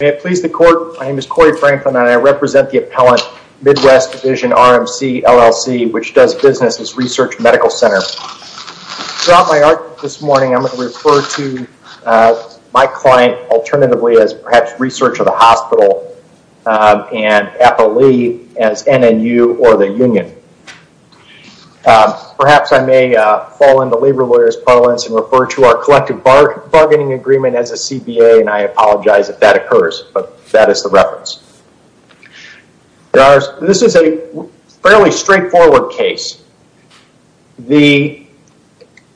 My name is Corey Franklin and I represent the appellant, Midwest Division-RMC, LLC, which does business as Research Medical Center. Throughout my argument this morning, I'm going to refer to my client, alternatively, as perhaps Research of the Hospital, and APA Lee as NNU or the Union. Perhaps I may fall into labor lawyer's parlance and refer to our collective bargaining agreement as a CBA, and I apologize if that occurs, but that is the reference. This is a fairly straightforward case. The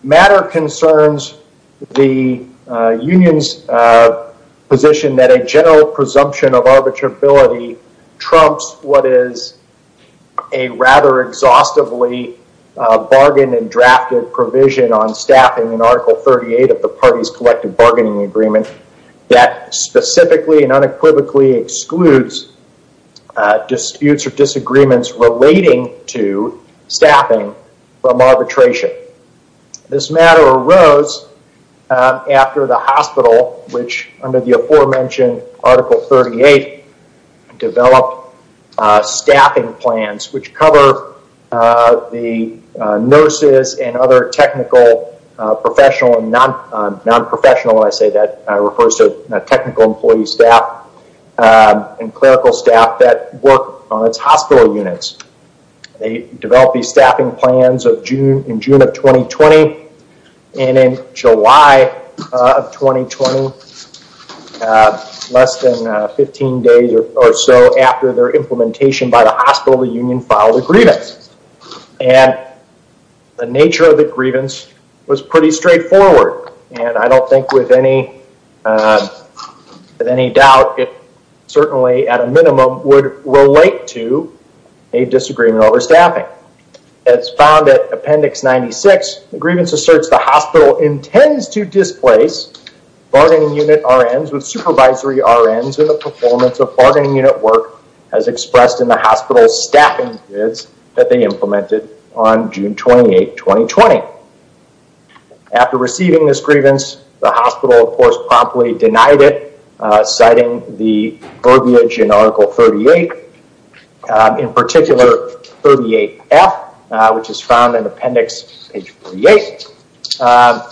matter concerns the union's position that a general presumption of arbitrability trumps what is a rather exhaustively bargained and drafted provision on staffing in Article 38 of the party's collective bargaining agreement that specifically and unequivocally excludes disputes or disagreements relating to staffing from arbitration. This matter arose after the hospital, which under the aforementioned Article 38, developed staffing plans which cover the nurses and other technical professional and non-professional, when I say that, I refer to technical employee staff and clerical staff that work on its hospital units. They developed these staffing plans in June of 2020, and in July of 2020, less than 15 days or so after their implementation by the hospital, the union filed a grievance. The nature of the grievance was pretty straightforward, and I don't think with any doubt it certainly at a minimum would relate to a disagreement over staffing. As found at Appendix 96, the grievance asserts the hospital intends to displace bargaining unit RNs with supervisory RNs in the performance of bargaining unit work as expressed in the hospital's staffing grids that they implemented on June 28, 2020. After receiving this grievance, the hospital, of course, promptly denied it, citing the verbiage in Article 38, in particular, 38F, which is found in Appendix 48,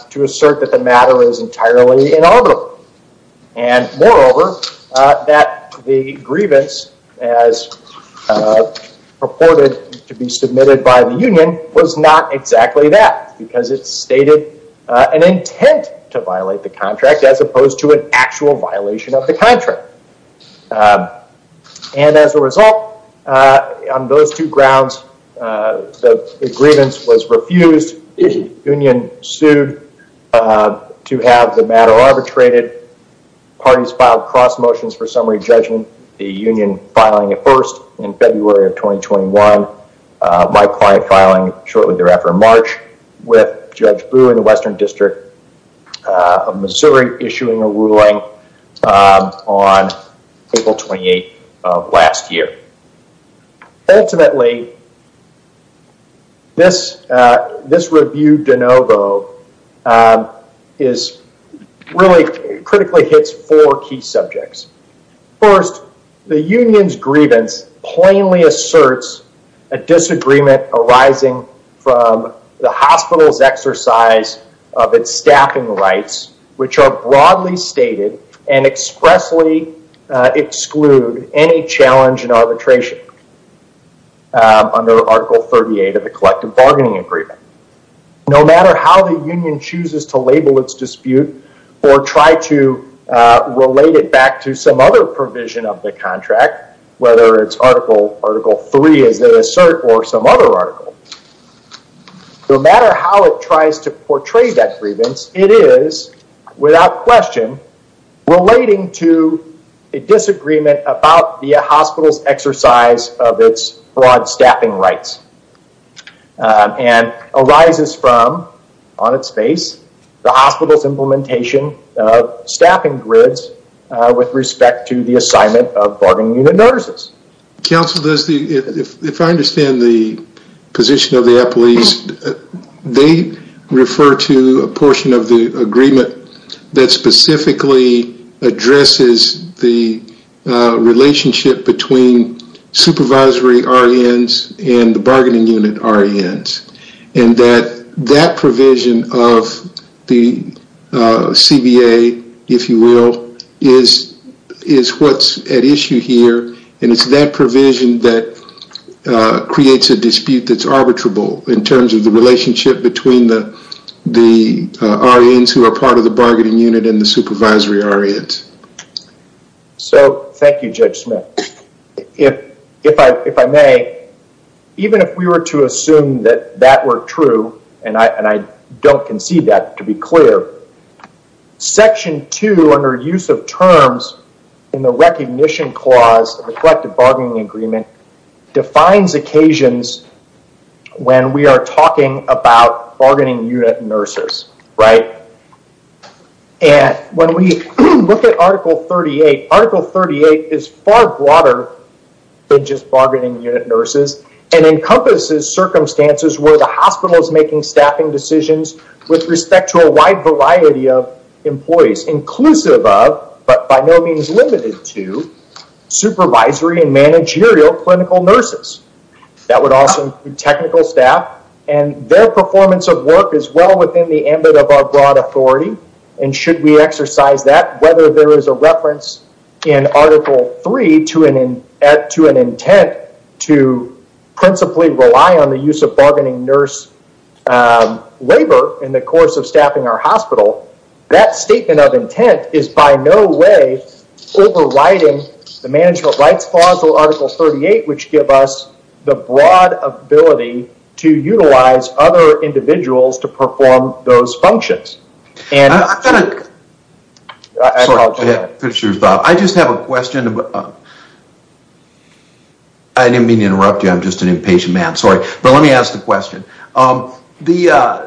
to assert that the matter is entirely inalbitable. Moreover, that the grievance as purported to be submitted by the union was not exactly that, because it stated an intent to violate the contract as opposed to an actual violation of the contract. As a result, on those two grounds, the grievance was refused. The union sued to have the matter arbitrated. Parties filed cross motions for summary judgment. The union filing it first in February of 2021. My client filing shortly thereafter in March with Judge Boo in the Western District of Missouri issuing a ruling on April 28 of last year. Ultimately, this review de novo really critically hits four key subjects. First, the union's grievance plainly asserts a disagreement arising from the hospital's exercise of its staffing rights, which are broadly stated and expressly exclude any challenge in arbitration under Article 38 of the Collective Bargaining Agreement. No matter how the union chooses to label its dispute, or try to relate it back to some other provision of the contract, whether it's Article 3, as it asserts, or some other article, no matter how it tries to portray that grievance, it is, without question, relating to a disagreement about the hospital's exercise of its broad staffing rights, and arises from, on its face, the hospital's implementation of staffing grids with respect to the assignment of bargaining unit nurses. Counsel, if I understand the position of the appellees, they refer to a portion of the agreement that specifically addresses the relationship between supervisory R.N.s and the bargaining unit R.N.s, and that that provision of the CBA, if you will, is what's at issue here, and it's that provision that creates a dispute that's arbitrable in terms of the relationship between the R.N.s who are part of the bargaining unit and the supervisory R.N.s. Thank you, Judge Smith. If I may, even if we were to assume that that were true, and I don't concede that, to be clear, Section 2, under use of terms in the Recognition Clause of the Collective Bargaining Agreement, defines occasions when we are talking about bargaining unit nurses, right? And when we look at Article 38, Article 38 is far broader than just bargaining unit nurses and encompasses circumstances where the hospital is making staffing decisions with respect to a wide variety of employees, inclusive of, but by no means limited to, supervisory and managerial clinical nurses. That would also include technical staff, and their performance of work is well within the ambit of our broad authority, and should we exercise that, whether there is a reference in Article 3 to an intent to principally rely on the use of bargaining nurse labor in the course of staffing our hospital, that statement of intent is by no way overriding the Management Rights Clause or Article 38, which give us the broad ability to utilize other individuals to perform those functions. I just have a question. I didn't mean to interrupt you, I'm just an impatient man, sorry. But let me ask the question. I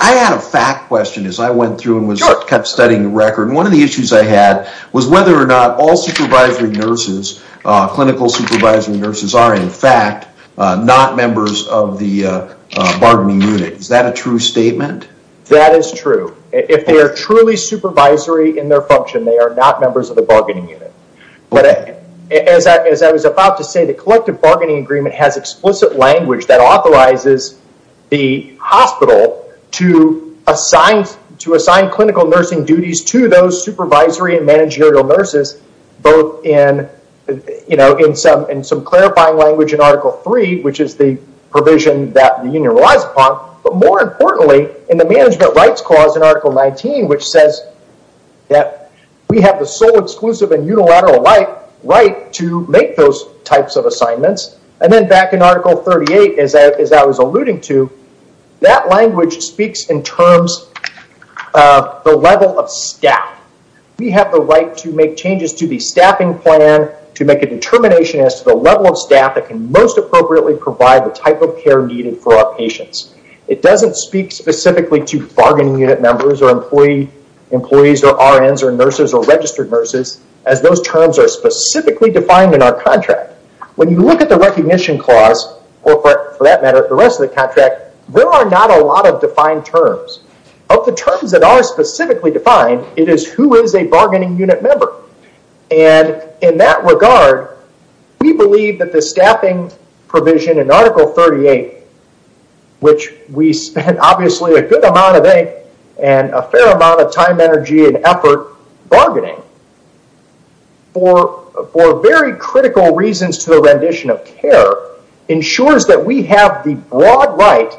had a fact question as I went through and kept studying the record. One of the issues I had was whether or not all supervisory nurses, clinical supervisory nurses, are in fact not members of the bargaining unit. Is that a true statement? That is true. If they are truly supervisory in their function, they are not members of the bargaining unit. As I was about to say, the collective bargaining agreement has explicit language that authorizes the hospital to assign clinical nursing duties to those supervisory and managerial nurses, both in some clarifying language in Article 3, which is the provision that the union relies upon, but more importantly in the Management Rights Clause in Article 19, which says that we have the sole exclusive and unilateral right to make those types of assignments. Then back in Article 38, as I was alluding to, that language speaks in terms of the level of staff. We have the right to make changes to the staffing plan, to make a determination as to the level of staff that can most appropriately provide the type of care needed for our patients. It doesn't speak specifically to bargaining unit members or employees or RNs or nurses or registered nurses, as those terms are specifically defined in our contract. When you look at the Recognition Clause, or for that matter, the rest of the contract, there are not a lot of defined terms. Of the terms that are specifically defined, it is who is a bargaining unit member. In that regard, we believe that the staffing provision in Article 38, which we spent obviously a good amount of ink and a fair amount of time, energy, and effort bargaining for very critical reasons to the rendition of care, ensures that we have the broad right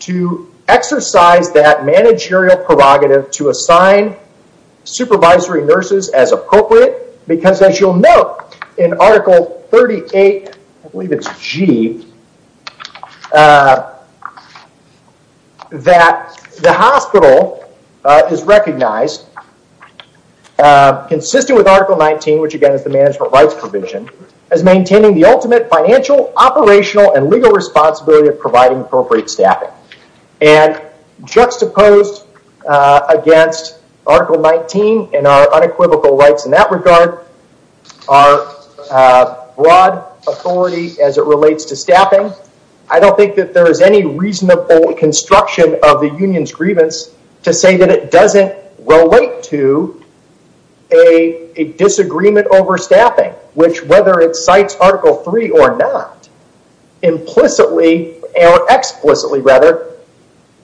to exercise that managerial prerogative to assign supervisory nurses as appropriate. As you'll note in Article 38, I believe it's G, that the hospital is recognized, consistent with Article 19, which again is the management rights provision, as maintaining the ultimate financial, operational, and legal responsibility of providing appropriate staffing. Juxtaposed against Article 19 and our unequivocal rights in that regard, our broad authority as it relates to staffing, I don't think that there is any reasonable construction of the union's grievance to say that it doesn't relate to a disagreement over staffing, which whether it cites Article 3 or not, explicitly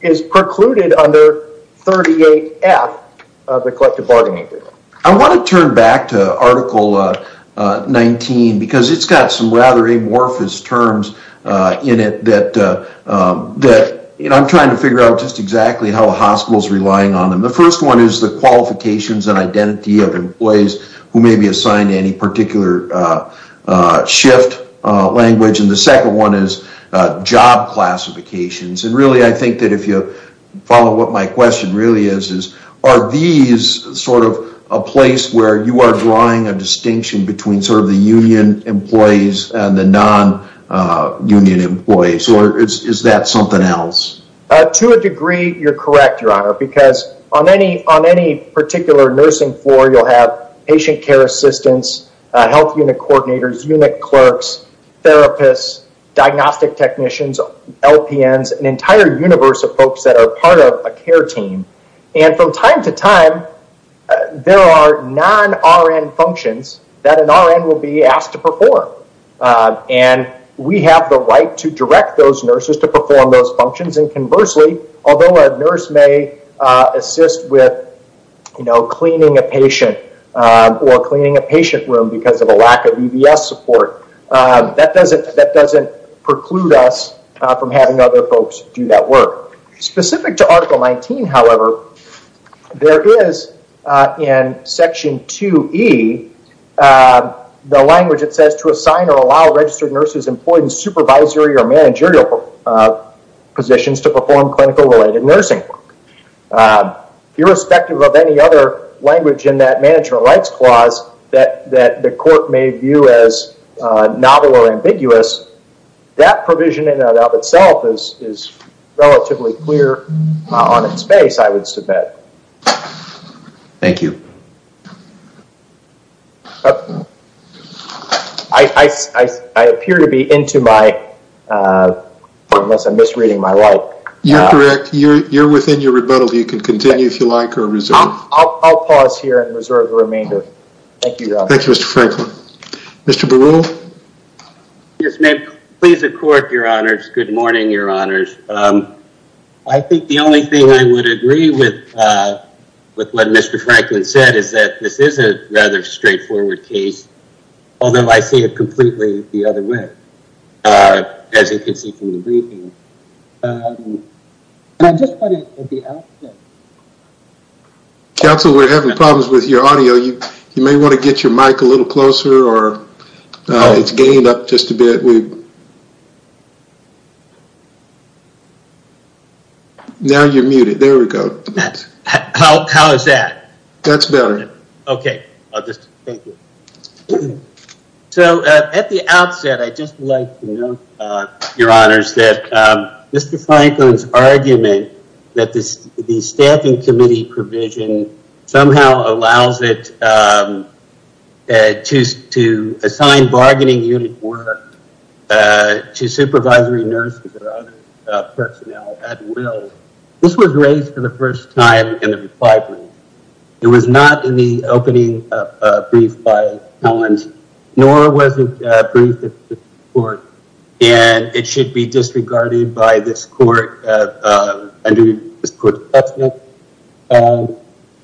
is precluded under 38F of the collective bargaining agreement. I want to turn back to Article 19 because it's got some rather amorphous terms in it that I'm trying to figure out just exactly how a hospital is relying on them. The first one is the qualifications and identity of employees who may be assigned any particular shift language. The second one is job classifications. Really, I think that if you follow what my question really is, are these a place where you are drawing a distinction between the union employees and the non-union employees, or is that something else? To a degree, you're correct, Your Honor, because on any particular nursing floor, you'll have patient care assistants, health unit coordinators, unit clerks, therapists, diagnostic technicians, LPNs, an entire universe of folks that are part of a care team. From time to time, there are non-RN functions that an RN will be asked to perform. We have the right to direct those nurses to perform those functions, and conversely, although a nurse may assist with cleaning a patient or cleaning a patient room because of a lack of EBS support, that doesn't preclude us from having other folks do that work. Specific to Article 19, however, there is, in Section 2E, the language that says to assign or allow registered nurses employed in supervisory or managerial positions to perform clinical-related nursing. Irrespective of any other language in that Management Rights Clause that the court may view as novel or ambiguous, because that provision in and of itself is relatively clear on its face, I would submit. Thank you. I appear to be into my, unless I'm misreading my light. You're correct. You're within your rebuttal. You can continue if you like or reserve. I'll pause here and reserve the remainder. Thank you, Your Honor. Thank you, Mr. Franklin. Mr. Baruch. Yes, ma'am. Please, the court, Your Honors. Good morning, Your Honors. I think the only thing I would agree with what Mr. Franklin said is that this is a rather straightforward case, although I see it completely the other way, as you can see from the briefing. And I just wanted the outcome. Counsel, we're having problems with your audio. You may want to get your mic a little closer or it's gained up just a bit. Now you're muted. There we go. How is that? That's better. Okay. So at the outset, I'd just like to note, Your Honors, that Mr. Franklin's argument that the Staffing Committee provision somehow allows it to assign bargaining unit work to supervisory nurses or other personnel at will. This was raised for the first time in the reply brief. It was not in the opening brief by Collins, nor was it briefed at this court. And it should be disregarded by this court under this court's precedent.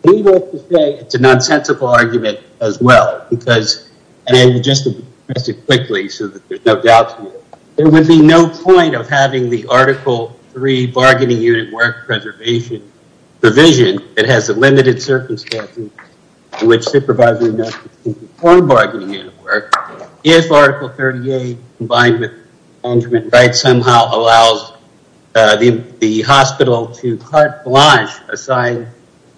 Needless to say, it's a nonsensical argument as well because, and just to address it quickly so that there's no doubt to it, there would be no point of having the Article 3 bargaining unit work preservation provision that has the limited circumstances in which supervisory nurses can perform bargaining unit work if Article 38, combined with management rights, somehow allows the hospital to carte blanche assign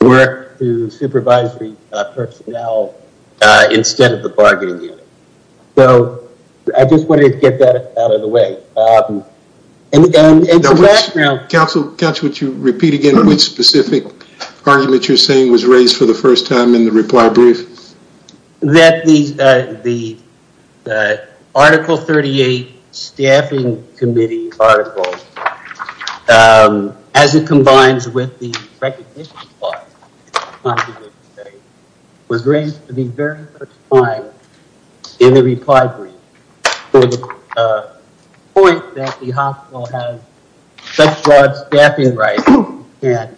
work to supervisory personnel instead of the bargaining unit. So I just wanted to get that out of the way. Counsel, would you repeat again which specific argument you're saying was raised for the first time in the reply brief? That the Article 38 staffing committee article, as it combines with the recognition clause, was raised for the very first time in the reply brief to the point that the hospital has such broad staffing rights and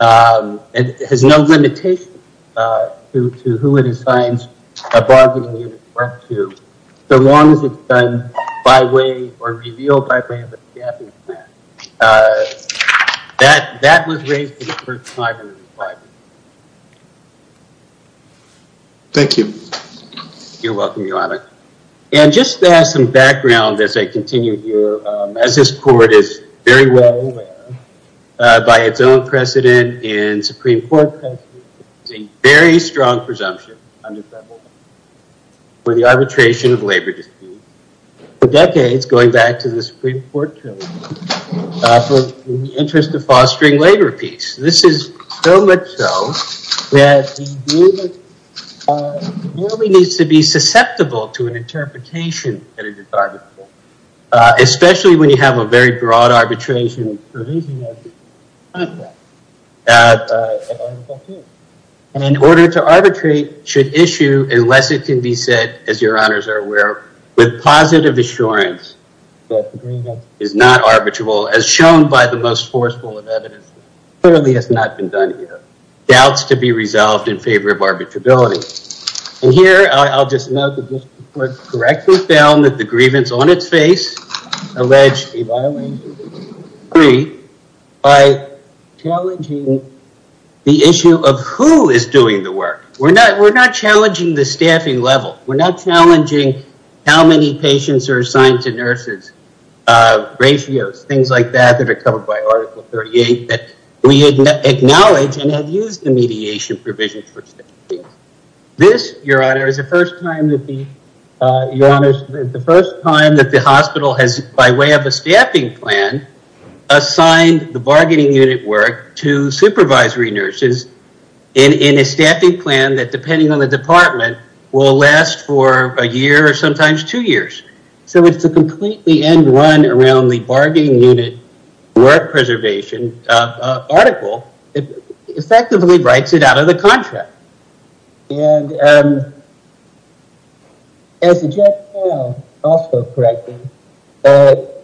has no limitation to who it assigns a bargaining unit work to so long as it's done by way or revealed by way of a staffing plan. That was raised for the first time in the reply brief. Thank you. You're welcome, Your Honor. And just to add some background as I continue here, as this court is very well aware, by its own precedent and Supreme Court precedent, it's a very strong presumption under federal law for the arbitration of labor disputes for decades, going back to the Supreme Court trillium, for the interest of fostering labor peace. This is so much so that the agreement merely needs to be susceptible to an interpretation that it is arbitrable, especially when you have a very broad arbitration provision. And in order to arbitrate should issue, unless it can be said, as Your Honors are aware, with positive assurance that the agreement is not arbitrable, as shown by the most forceful of evidence, clearly has not been done here. Doubts to be resolved in favor of arbitrability. And here I'll just note that this court correctly found that the grievance on its face alleged a violation of the decree by challenging the issue of who is doing the work. We're not challenging the staffing level. We're not challenging how many patients are assigned to nurses, ratios, things like that, that are covered by Article 38, that we acknowledge and have used the mediation provision. This, Your Honor, is the first time that the hospital has, by way of a staffing plan, assigned the bargaining unit work to supervisory nurses in a staffing plan that, depending on the department, will last for a year or sometimes two years. So it's a completely end-run around the bargaining unit work preservation article that effectively writes it out of the contract. And as the judge found, also correctly, that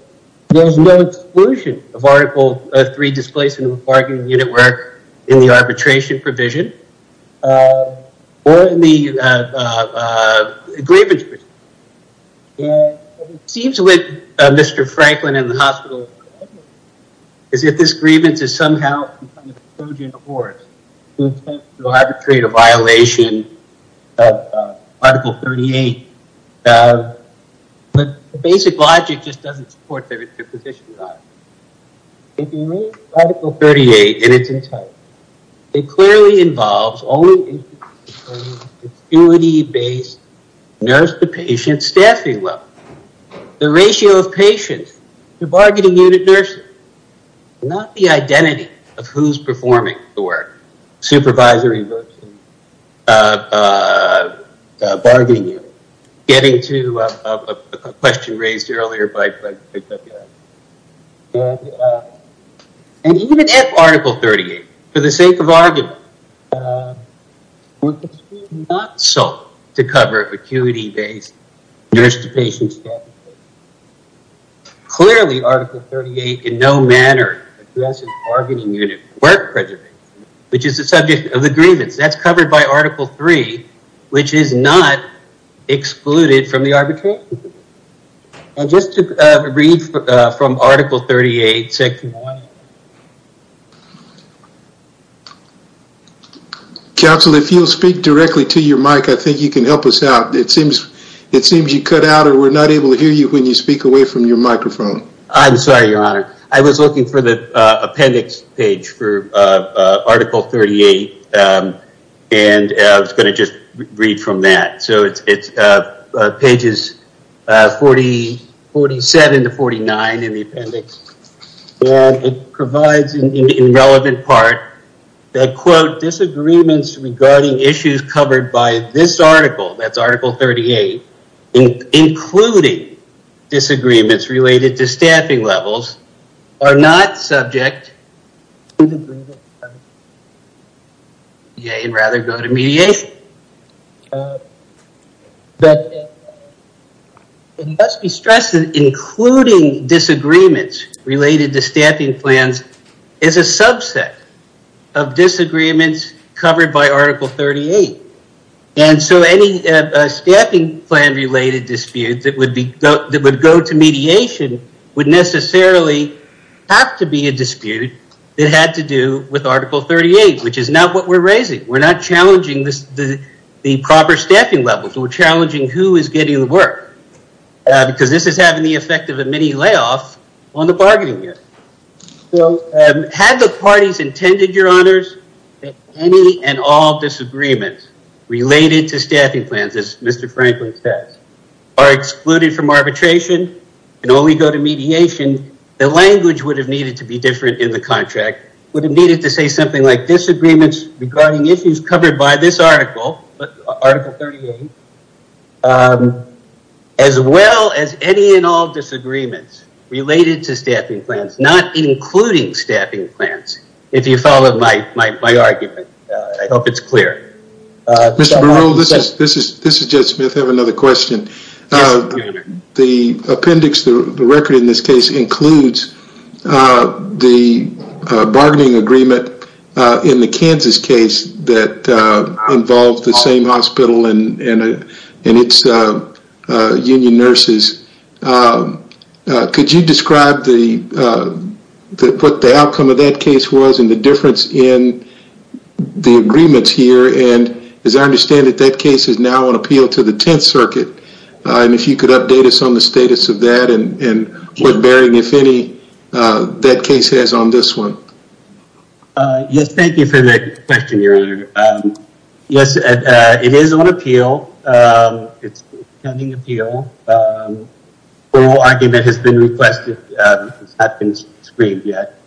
there's no exclusion of Article 3, Displacement of Bargaining Unit Work, in the arbitration provision or in the grievance provision. And it seems with Mr. Franklin and the hospital, is if this grievance is somehow on the Trojan horse to attempt to arbitrate a violation of Article 38, the basic logic just doesn't support their position, Your Honor. If you read Article 38 in its entirety, it clearly involves only a duty-based nurse-to-patient staffing level. The ratio of patients to bargaining unit nurses, not the identity of who's performing the work. Supervisory nursing, bargaining unit, getting to a question raised earlier by Dr. F. And even if Article 38, for the sake of argument, was not sought to cover acuity-based nurse-to-patient staffing. Clearly, Article 38, in no manner, addresses bargaining unit work preservation, which is the subject of the grievance. That's covered by Article 3, which is not excluded from the arbitration provision. And just to read from Article 38, Section 1. Counsel, if you'll speak directly to your mic, I think you can help us out. It seems you cut out, or we're not able to hear you when you speak away from your microphone. I'm sorry, Your Honor. I was looking for the appendix page for Article 38, and I was gonna just read from that. So it's pages 47 to 49 in the appendix. It provides, in the relevant part, that quote, disagreements regarding issues covered by this article, that's Article 38, including disagreements related to staffing levels are not subject to the grievance. Yay, and rather go to mediation. It must be stressed that including disagreements related to staffing plans is a subset of disagreements covered by Article 38. And so any staffing plan related dispute that would go to mediation would necessarily have to be a dispute that had to do with Article 38, which is not what we're raising. We're not challenging the proper staffing levels. We're challenging who is getting the work, because this is having the effect of a mini layoff on the bargaining unit. So had the parties intended, Your Honors, that any and all disagreements related to staffing plans, as Mr. Franklin says, are excluded from arbitration and only go to mediation, the language would have needed to be different in the contract, would have needed to say something like, disagreements regarding issues covered by this article, Article 38, as well as any and all disagreements related to staffing plans, not including staffing plans, if you follow my argument. I hope it's clear. Mr. Burrell, this is Jed Smith. I have another question. The appendix, the record in this case, includes the bargaining agreement in the Kansas case that involved the same hospital and its union nurses. Could you describe what the outcome of that case was and the difference in the agreements here? As I understand it, that case is now on appeal to the Tenth Circuit. If you could update us on the status of that and what bearing, if any, that case has on this one. Yes, thank you for that question, Your Honor. Yes, it is on appeal. It's pending appeal. The whole argument has been requested. It's not been screened yet.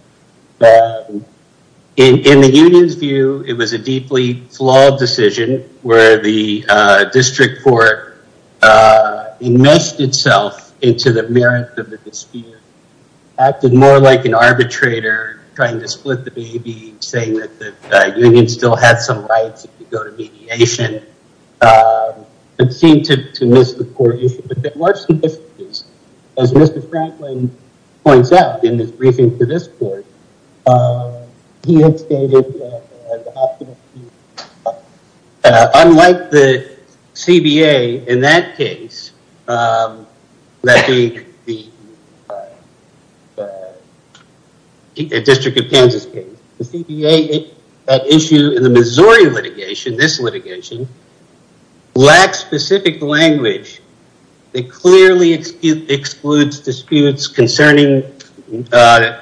In the union's view, it was a deeply flawed decision where the district court enmeshed itself into the merit of the dispute, acted more like an arbitrator, trying to split the baby, saying that the union still had some rights if you go to mediation, and seemed to miss the court issue. But there were some differences. As Mr. Franklin points out in his briefing to this court, he had stated that the hospital... Unlike the CBA in that case, that being the District of Kansas case, the CBA, that issue in the Missouri litigation, this litigation, lacks specific language that clearly excludes disputes concerning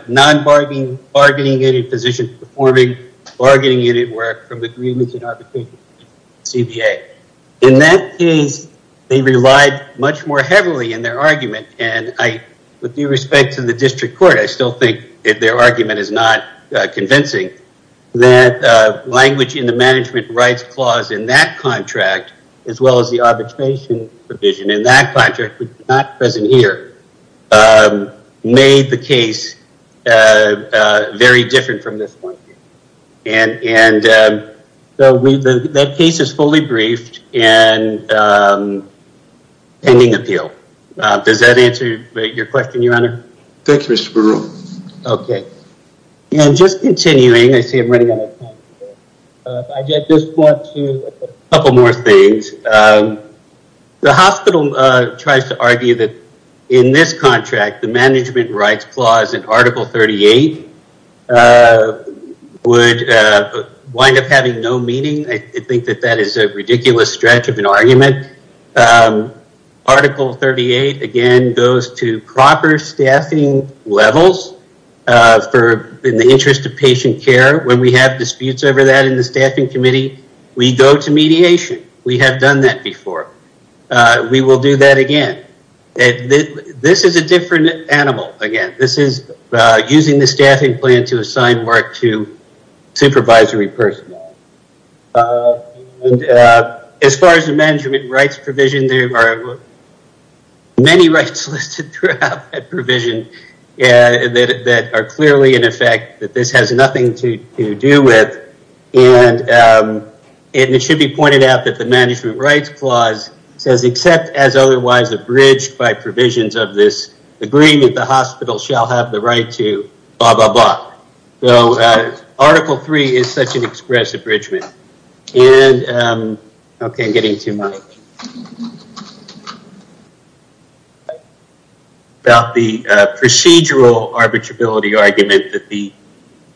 non-bargaining, bargaining in a position, performing bargaining unit work from agreements and arbitration of the CBA. In that case, they relied much more heavily in their argument, and with due respect to the district court, I still think that their argument is not convincing, that language in the management rights clause in that contract, as well as the arbitration provision in that contract, which is not present here, made the case very different from this one. That case is fully briefed and pending appeal. Does that answer your question, Your Honor? Thank you, Mr. Baruch. Okay. And just continuing, I see I'm running out of time. I just want to, a couple more things. The hospital tries to argue that in this contract, the management rights clause in Article 38 would wind up having no meaning. I think that that is a ridiculous stretch of an argument. Article 38, again, goes to proper staffing levels in the interest of patient care. When we have disputes over that in the staffing committee, we go to mediation. We have done that before. We will do that again. This is a different animal, again. This is using the staffing plan to assign work to supervisory personnel. As far as the management rights provision, there are many rights listed throughout that provision. They are clearly, in effect, that this has nothing to do with. It should be pointed out that the management rights clause says, except as otherwise abridged by provisions of this agreement, the hospital shall have the right to blah, blah, blah. Article 3 is such an express abridgment. Okay, I'm getting too much. About the procedural arbitrability argument that the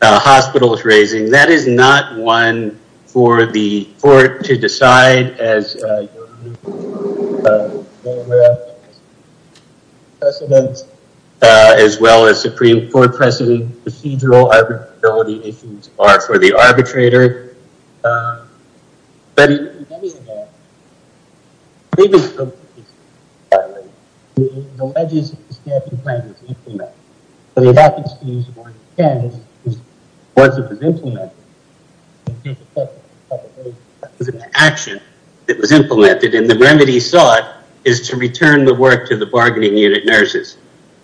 hospital is raising, that is not one for the court to decide as the president, as well as Supreme Court precedent. Procedural arbitrability issues are for the arbitrator. But in any event, the legislative staffing plan was implemented. So they have to choose where it ends. Once it was implemented, the action that was implemented, and the remedy sought, is to return the work to the bargaining unit nurses.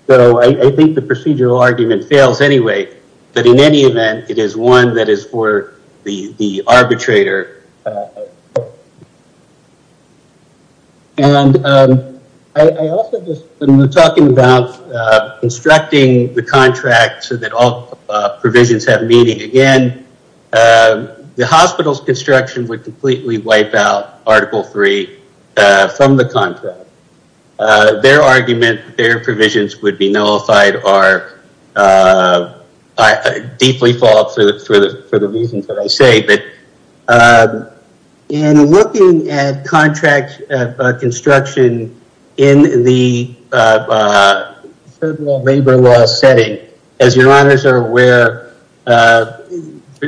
So I think the procedural argument fails anyway, but in any event, it is one that is for the arbitrator. And I also just, when we're talking about constructing the contract so that all provisions have meaning, again, the hospital's construction would completely wipe out Article 3 from the contract. Their argument, their provisions would be nullified I deeply fall for the reasons that I say. In looking at contract construction in the federal labor law setting, as your honors are aware,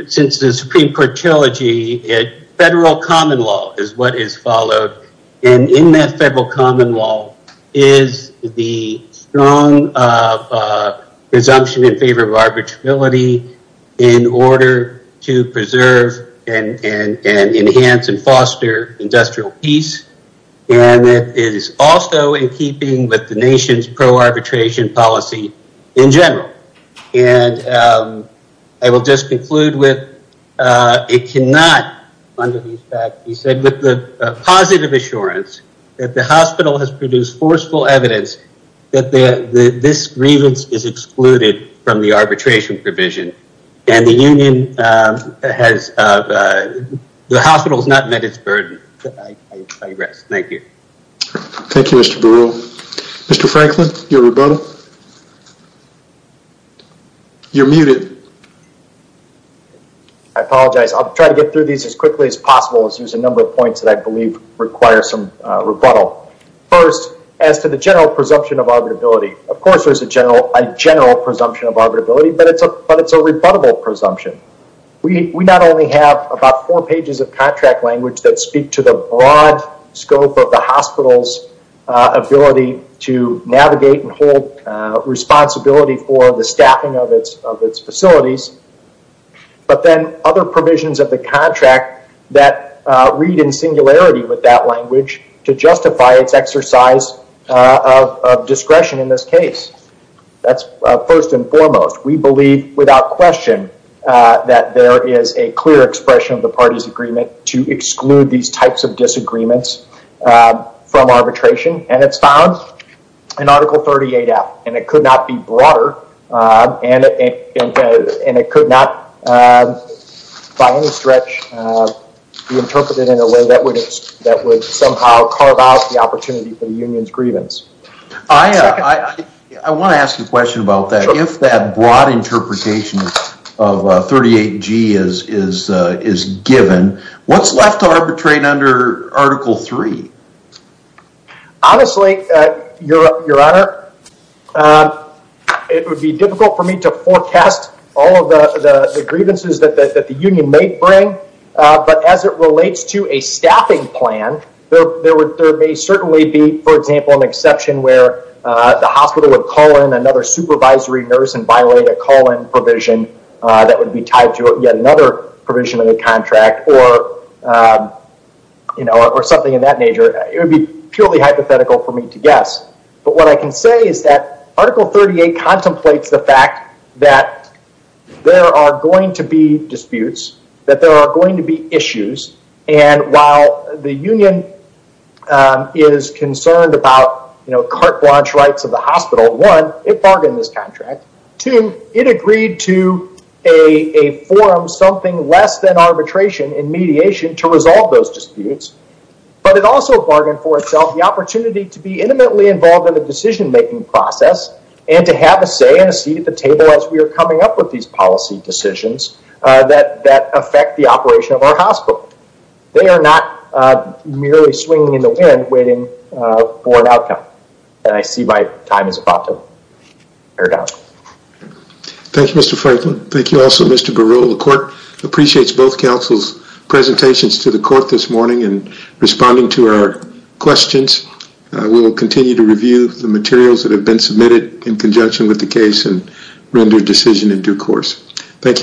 since the Supreme Court Trilogy, federal common law is what is followed. And in that federal common law is the strong presumption in favor of arbitrability in order to preserve and enhance and foster industrial peace. And it is also in keeping with the nation's pro-arbitration policy in general. I will just conclude with, it cannot, under these facts, with the positive assurance that the hospital has produced forceful evidence that this grievance is excluded from the arbitration provision and the union has, the hospital has not met its burden. I rest, thank you. Thank you, Mr. Baru. Mr. Franklin, your rebuttal. You're muted. I apologize. I'll try to get through these as quickly as possible as there's a number of points that I believe require some rebuttal. First, as to the general presumption of arbitrability, of course there's a general presumption of arbitrability, but it's a rebuttable presumption. We not only have about four pages of contract language that speak to the broad scope of the hospital's ability to navigate and hold responsibility for the staffing of its facilities, but then other provisions of the contract that read in singularity with that language to justify its exercise of discretion in this case. That's first and foremost. We believe without question that there is a clear expression of the party's agreement to exclude these types of disagreements from arbitration, and it's found in Article 38F, and it could not be broader, and it could not, by any stretch, be interpreted in a way that would somehow carve out the opportunity for the union's grievance. I want to ask you a question about that. If that broad interpretation of 38G is given, what's left to arbitrate under Article 3? Honestly, Your Honor, it would be difficult for me to forecast all of the grievances that the union may bring, but as it relates to a staffing plan, there may certainly be, for example, an exception where the hospital would call in another supervisory nurse and violate a call-in provision that would be tied to yet another provision of the contract or something of that nature. It would be purely hypothetical for me to guess, but what I can say is that Article 38 contemplates the fact that there are going to be disputes, that there are going to be issues, and while the union is concerned about carte blanche rights of the hospital, one, it bargained this contract. Two, it agreed to a forum, something less than arbitration and mediation, to resolve those disputes, but it also bargained for itself the opportunity to be intimately involved in the decision-making process and to have a say and a seat at the table as we are coming up with these policy decisions that affect the operation of our hospital. They are not merely swinging in the wind waiting for an outcome, and I see my time is about to air down. Thank you, Mr. Franklin. Thank you also, Mr. Baril. The court appreciates both counsel's presentations to the court this morning and responding to our questions. We will continue to review the materials that have been submitted in conjunction with the case and render decision in due course. Thank you.